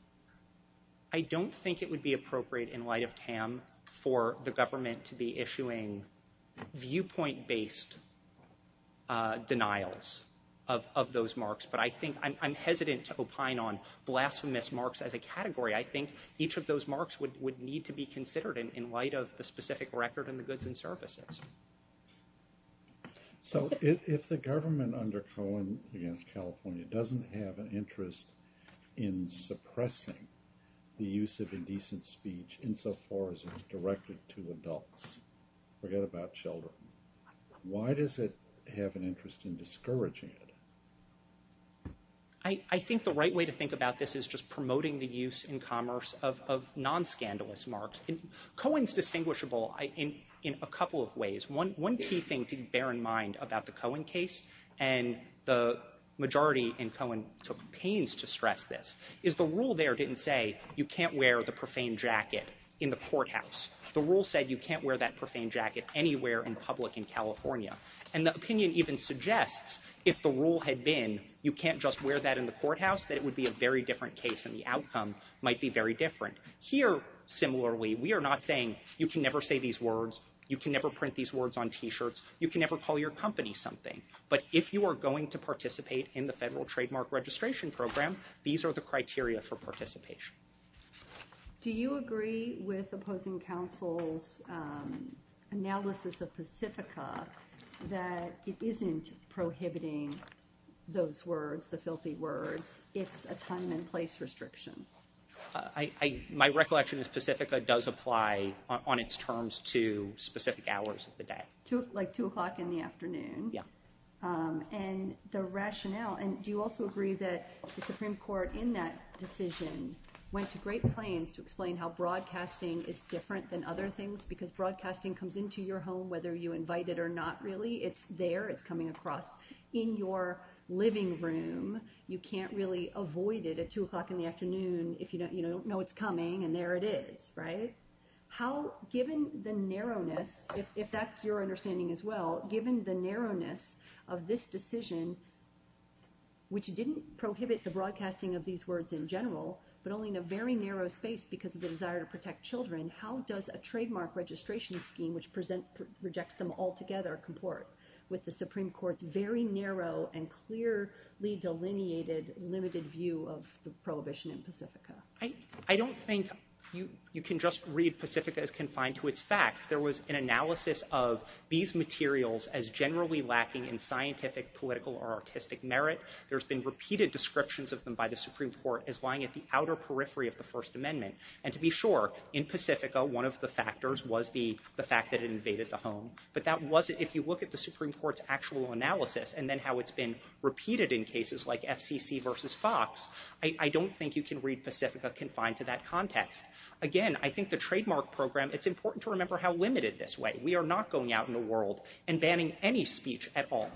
I don't think it would be appropriate in light of Tam for the government to be issuing viewpoint-based denials of those marks, but I think I'm hesitant to opine on blasphemous marks as a category. I think each of those marks would need to be considered in light of the specific record in the goods and services. So if the government under Cohen against California doesn't have an interest in suppressing the use of indecent speech insofar as it's directed to adults, forget about children, why does it have an interest in discouraging it? I think the right way to think about this is just promoting the use in commerce of non-scandalous marks. Cohen's distinguishable in a couple of ways. One key thing to bear in mind about the Cohen case, and the majority in Cohen took pains to stress this, is the rule there didn't say you can't wear the profane jacket in the courthouse. The rule said you can't wear that profane jacket anywhere in public in California. And the opinion even suggests if the rule had been you can't just wear that in the courthouse, that it would be a very different case and the outcome might be very different. Here, similarly, we are not saying you can never say these shirts, you can never call your company something. But if you are going to participate in the Federal Trademark Registration Program, these are the criteria for participation. Do you agree with opposing council's analysis of Pacifica that it isn't prohibiting those words, the filthy words, it's a time and place restriction? My recollection is Pacifica does apply on its terms to specific hours of the day. Like 2 o'clock in the afternoon? And the rationale, and do you also agree that the Supreme Court in that decision went to great planes to explain how broadcasting is different than other things because broadcasting comes into your home whether you invite it or not really, it's there, it's coming across in your living room, you can't really avoid it at 2 o'clock in the afternoon if you don't know it's coming and there it is, right? How, given the narrowness, if that's your understanding as well, given the narrowness of this decision which didn't prohibit the broadcasting of these words in general, but only in a very narrow space because of the desire to protect children, how does a trademark registration scheme which rejects them altogether comport with the Supreme Court's very narrow and clearly delineated limited view of the prohibition in Pacifica? I don't think you can just read Pacifica as confined to its facts. There was an analysis of these materials as generally lacking in scientific, political, or artistic merit. There's been repeated descriptions of them by the Supreme Court as lying at the outer periphery of the First Amendment and to be sure, in Pacifica one of the factors was the fact that it invaded the home, but that wasn't, if you look at the Supreme Court's actual analysis and then how it's been repeated in cases like FCC versus Fox, I don't think you can read Pacifica confined to that context. Again, I think the trademark program, it's important to remember how limited this way. We are not going out in the world and banning any speech at all.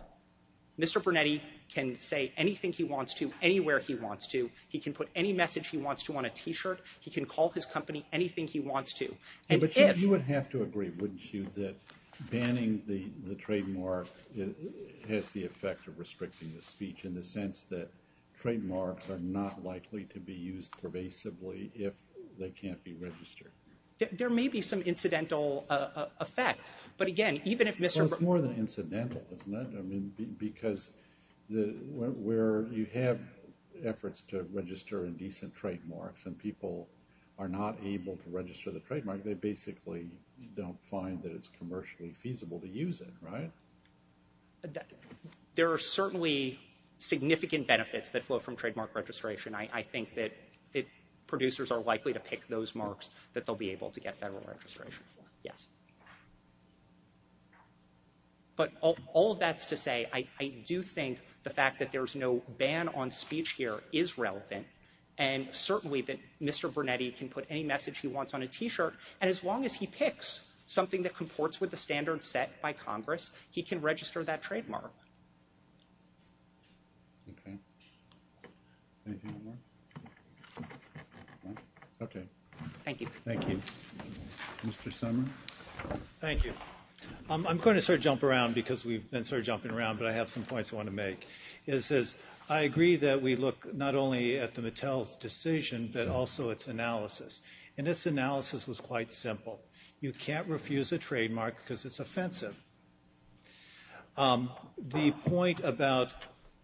Mr. Brunetti can say anything he wants to anywhere he wants to. He can put any message he wants to on a t-shirt. He can call his company anything he wants to. But you would have to agree, wouldn't you, that banning the trademark has the effect of restricting the speech in the United States? Well, I don't think that trademarks are not likely to be used pervasively if they can't be registered. There may be some incidental effect, but again, even if Mr. Well, it's more than incidental, isn't it? Because where you have efforts to register indecent trademarks and people are not able to register the trademark, they basically don't find that it's commercially feasible to use it, right? There are certainly significant benefits that flow from trademark registration. I think that producers are likely to pick those marks that they'll be able to get federal registration for, yes. But all that's to say I do think the fact that there's no ban on speech here is relevant, and certainly that Mr. Brunetti can put any message he wants on a t-shirt, and as long as he picks something that comports with the standard set by Congress, he can register that trademark. Okay. Anything more? Okay. Thank you. Mr. Sumner? Thank you. I'm going to sort of jump around because we've been sort of jumping around, but I have some points I want to make. It says I agree that we look not only at the Mattel's decision, but also its analysis, and its analysis was quite simple. You can't refuse a trademark because it's offensive. The point about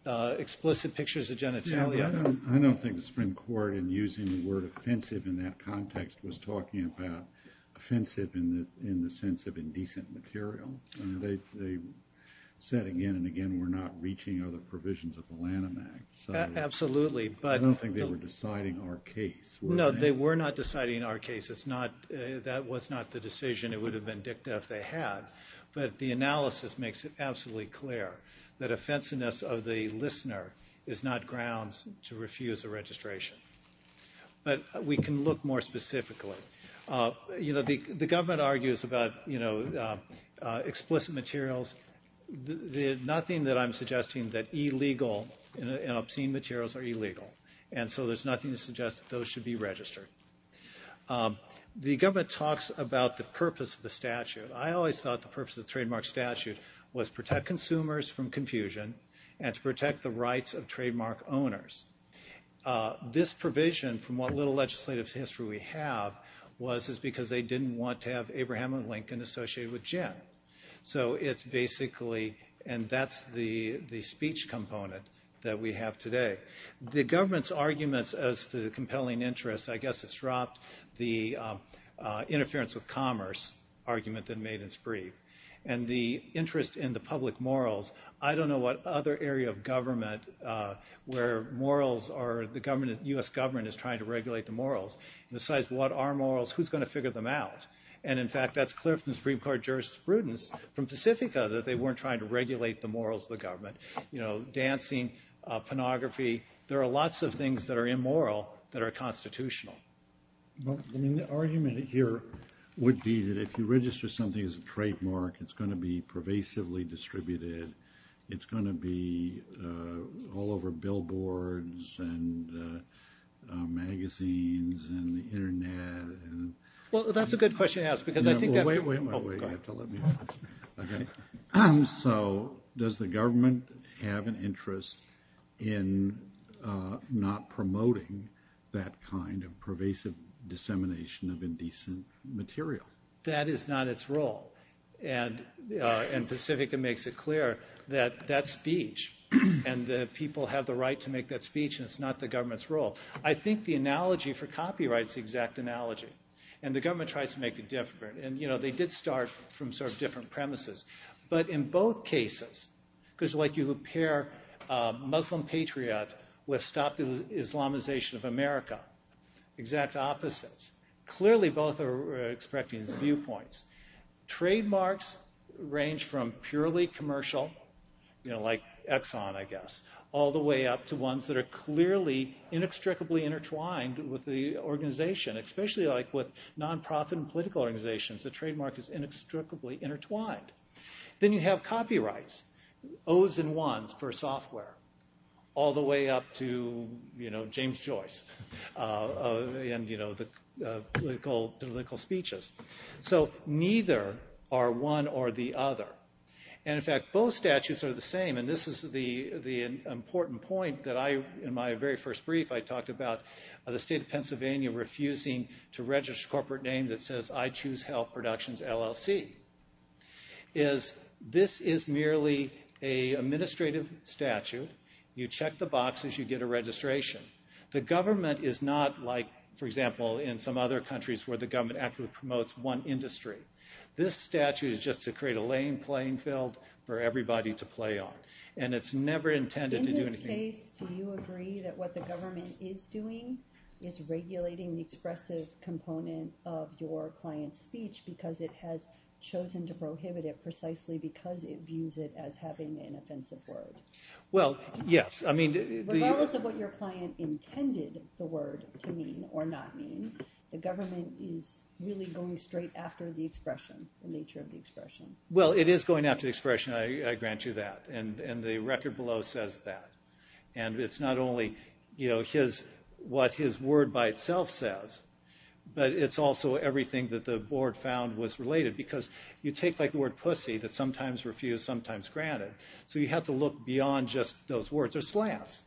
explicit pictures of genitalia... I don't think the Supreme Court in using the word offensive in that context was talking about offensive in the sense of indecent material. They said again and again we're not reaching other provisions of the Lanham Act. Absolutely, but... I don't think they were deciding our case. No, they were not deciding our case. That was not the decision. It would have been dicta if they had. But the analysis makes it absolutely clear that offensiveness of the listener is not grounds to refuse a registration. But we can look more specifically. The government argues about explicit materials. Nothing that I'm suggesting that illegal and obscene materials are illegal. And so there's nothing to suggest that those should be registered. The government talks about the purpose of the statute. I always thought the purpose of the trademark statute was to protect consumers from confusion and to protect the rights of trademark owners. This provision, from what little legislative history we have, was because they didn't want to have Abraham and Lincoln associated with Gen. So it's basically... And that's the speech component that we have today. The government's arguments as to compelling interest, I guess it's dropped the interference with commerce argument that made it spree. And the interest in the public morals, I don't know what other area of government where morals are... The U.S. government is trying to regulate the morals. Besides what are morals, who's going to figure them out? And in fact, that's clear from the Supreme Court jurisprudence from Pacifica that they weren't trying to regulate the morals of the government. Dancing, pornography, there are lots of things that are immoral that are constitutional. The argument here would be that if you register something as a trademark, it's going to be pervasively distributed. It's going to be all over billboards and magazines and the internet. Well, that's a good question to ask. Wait, wait, wait. So, does the government have an interest in not promoting that kind of pervasive dissemination of indecent material? That is not its role. And Pacifica makes it clear that that speech and that people have the right to make that speech and it's not the government's role. I think the analogy for copyright is the exact analogy. And the government tries to make it different. And they did start from sort of different premises. But in both cases, because you compare Muslim Patriot with Stop the Islamization of America, exact opposites, clearly both are expecting these viewpoints. Trademarks range from purely commercial, like Exxon, I guess, all the way up to ones that are clearly inextricably intertwined with the organization, especially like with non-profit and political organizations, the trademark is inextricably intertwined. Then you have copyrights, O's and 1's for software, all the way up to James Joyce and the political speeches. So, neither are one or the other. And in fact, both statutes are the same. And this is the important point that in my very first brief I talked about the state of Pennsylvania refusing to register a corporate name that says I Choose Health Productions LLC is this is merely an administrative statute. You check the boxes, you get a registration. The government is not like, for example, in some other countries where the government actually promotes one industry. This statute is just to create a lane playing field for everybody to play on. And it's never intended to do anything. In your case, do you agree that what the government is doing is regulating the expressive component of your client's speech because it has chosen to prohibit it precisely because it views it as having an offensive word? Well, yes. Regardless of what your client intended the word to mean or not mean, the government is really going straight after the expression, the nature of the expression. Well, it is going after the expression, I grant you that. And the record below says that. And it's not only what his word by itself says, but it's also everything that the board found was related because you take the word pussy that's sometimes refused, sometimes granted. So you have to look beyond just those words. Or slants.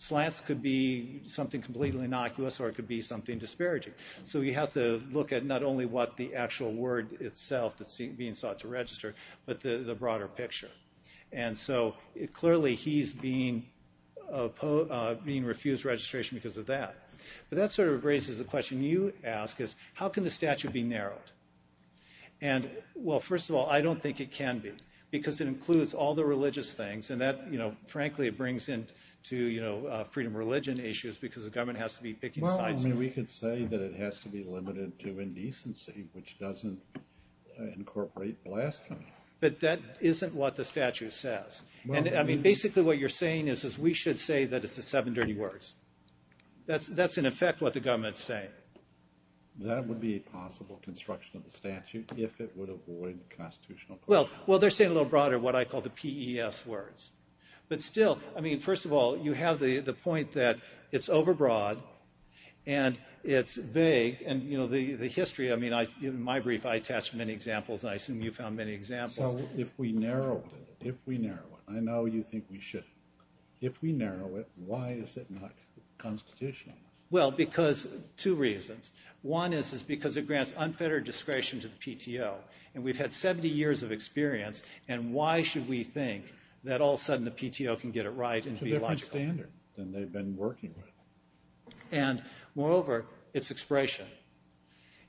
Slants could be something completely innocuous or it could be something disparaging. So you have to look at not only what the actual word itself that's being sought to register, but the broader picture. And so, clearly, he's being refused registration because of that. But that sort of raises the question you ask is, how can the statute be narrowed? And, well, first of all, I don't think it can be. Because it includes all the religious things and that, frankly, it brings into freedom of religion issues because the government has to be picking sides. We could say that it has to be limited to indecency, which doesn't incorporate blasphemy. But that isn't what the statute says. And, I mean, basically what you're saying is we should say that it's the seven dirty words. That's, in effect, what the government's saying. That would be a possible construction of the statute if it would avoid constitutional... Well, they're saying a little broader what I call the PES words. But still, I mean, first of all, you have the point that it's overbroad and it's vague and, you know, the history, I mean, in my brief, I attached many examples and I assume you found many examples. So, if we narrow it, I know you think we shouldn't, if we narrow it, why is it not constitutional? Well, because, two reasons. One is because it grants unfettered discretion to the PTO. And we've had 70 years of experience, and why should we think that all of a sudden the PTO can get it right and be logical? It's a different standard than they've been working with. And, moreover, it's expression.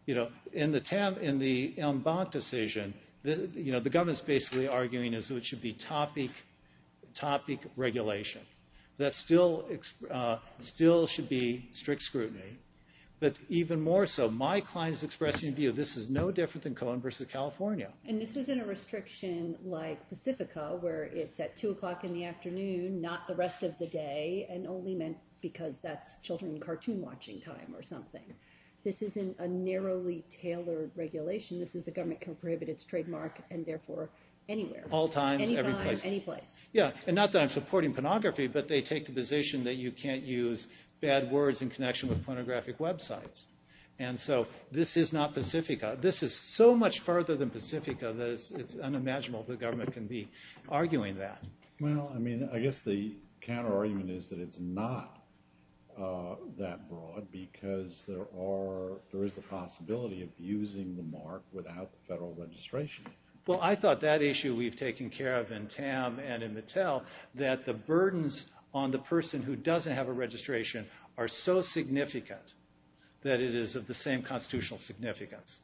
You know, in the Embank decision, the government's basically arguing it should be topic regulation. That still should be strict scrutiny. But even more so, my client is expressing the view this is no different than Cohen versus California. And this isn't a restriction like Pacifica, where it's at 2 o'clock in the afternoon, not the rest of the day, and only meant because that's children and cartoon watching time or something. This isn't a narrowly tailored regulation. This is the government can prohibit its trademark, and therefore, anywhere. All times, every place. Any time, any place. Yeah, and not that I'm supporting pornography, but they take the position that you can't use bad words in connection with pornographic websites. And so, this is not Pacifica. This is so much further than Pacifica that it's unimaginable the government can be arguing that. Well, I mean, I guess the counter-argument is that it's not that broad because there are, there is a possibility of using the mark without the federal registration. Well, I thought that issue we've taken care of in Tam and in Mattel, that the burdens on the person who doesn't have a registration are so significant that it is of the same constitutional significance.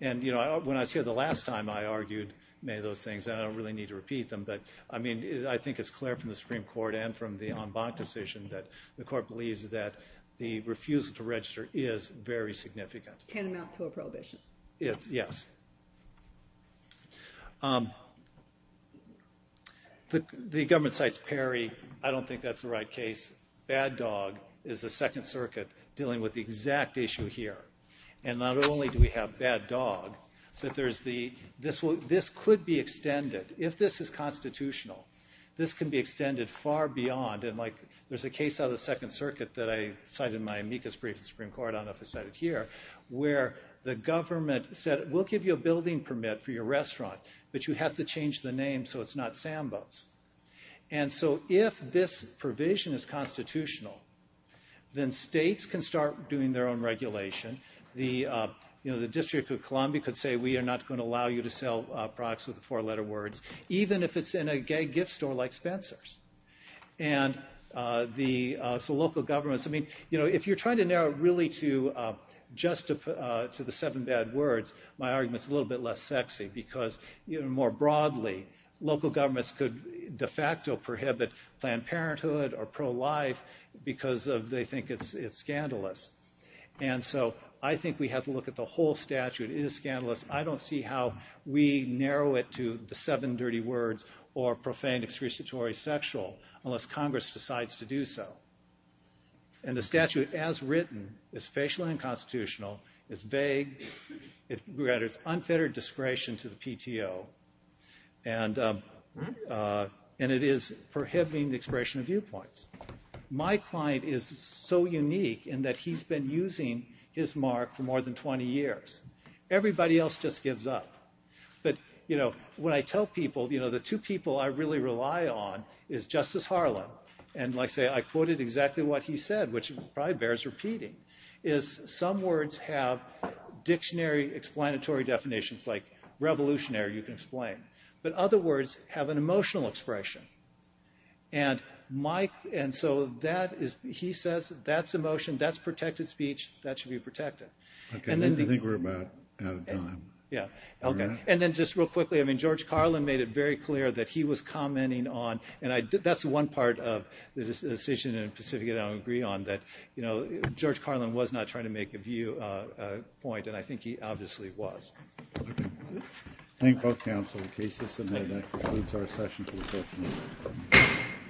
And, you know, when I was here the last time, I argued many of those things, and I don't really need to repeat them, but, I mean, I think it's clear from the Supreme Court and from the en banc decision that the Court believes that the refusal to register is very significant. Can amount to a prohibition. Yes. Um, the government cites Perry. I don't think that's the right case. Bad Dog is the Second Circuit dealing with the exact issue here. And not only do we have Bad Dog, that there's the, this could be extended, if this is constitutional, this can be extended far beyond, and like, there's a case out of the Second Circuit that I cited in my amicus brief in the Supreme Court, I don't know if I cited it here, where the government said, we'll give you a building permit for your restaurant, but you have to change the name so it's not Sambo's. And so if this provision is constitutional, then states can start doing their own regulation. The, you know, the District of Columbia could say, we are not going to allow you to sell products with four-letter words, even if it's in a gay gift store like Spencer's. And the, so local governments, I mean, you know, if you're trying to narrow it really to just to the seven bad words, my argument's a little bit less sexy because, you know, more broadly, local governments could de facto prohibit Planned Parenthood or pro-life because they think it's scandalous. And so I think we have to look at the whole statute. It is scandalous. I don't see how we narrow it to the seven dirty words or profane, excruciatory, sexual unless Congress decides to do so. And the statute, as written, is facially unconstitutional, it's vague, it grants unfettered discretion to the PTO, and it is prohibiting the expression of viewpoints. My client is so unique in that he's been using his mark for more than 20 years. Everybody else just gives up. But, you know, when I tell people, you know, the two people I really rely on is Justice Harlan, and like I say, I quoted exactly what he said, which probably bears repeating, is some words have dictionary explanatory definitions like revolutionary, you can explain, but other words have an emotional expression. And my, and so that is, he says that's emotion, that's protected speech, that should be protected. I think we're about out of time. And then just real quickly, I mean, George Carlin made it very clear that he was commenting on, and that's one part of the decision in Pacifica that I would agree on, that, you know, George Carlin was not trying to make a view point, and I think he obviously was. Thank both counsel in case this concludes our session.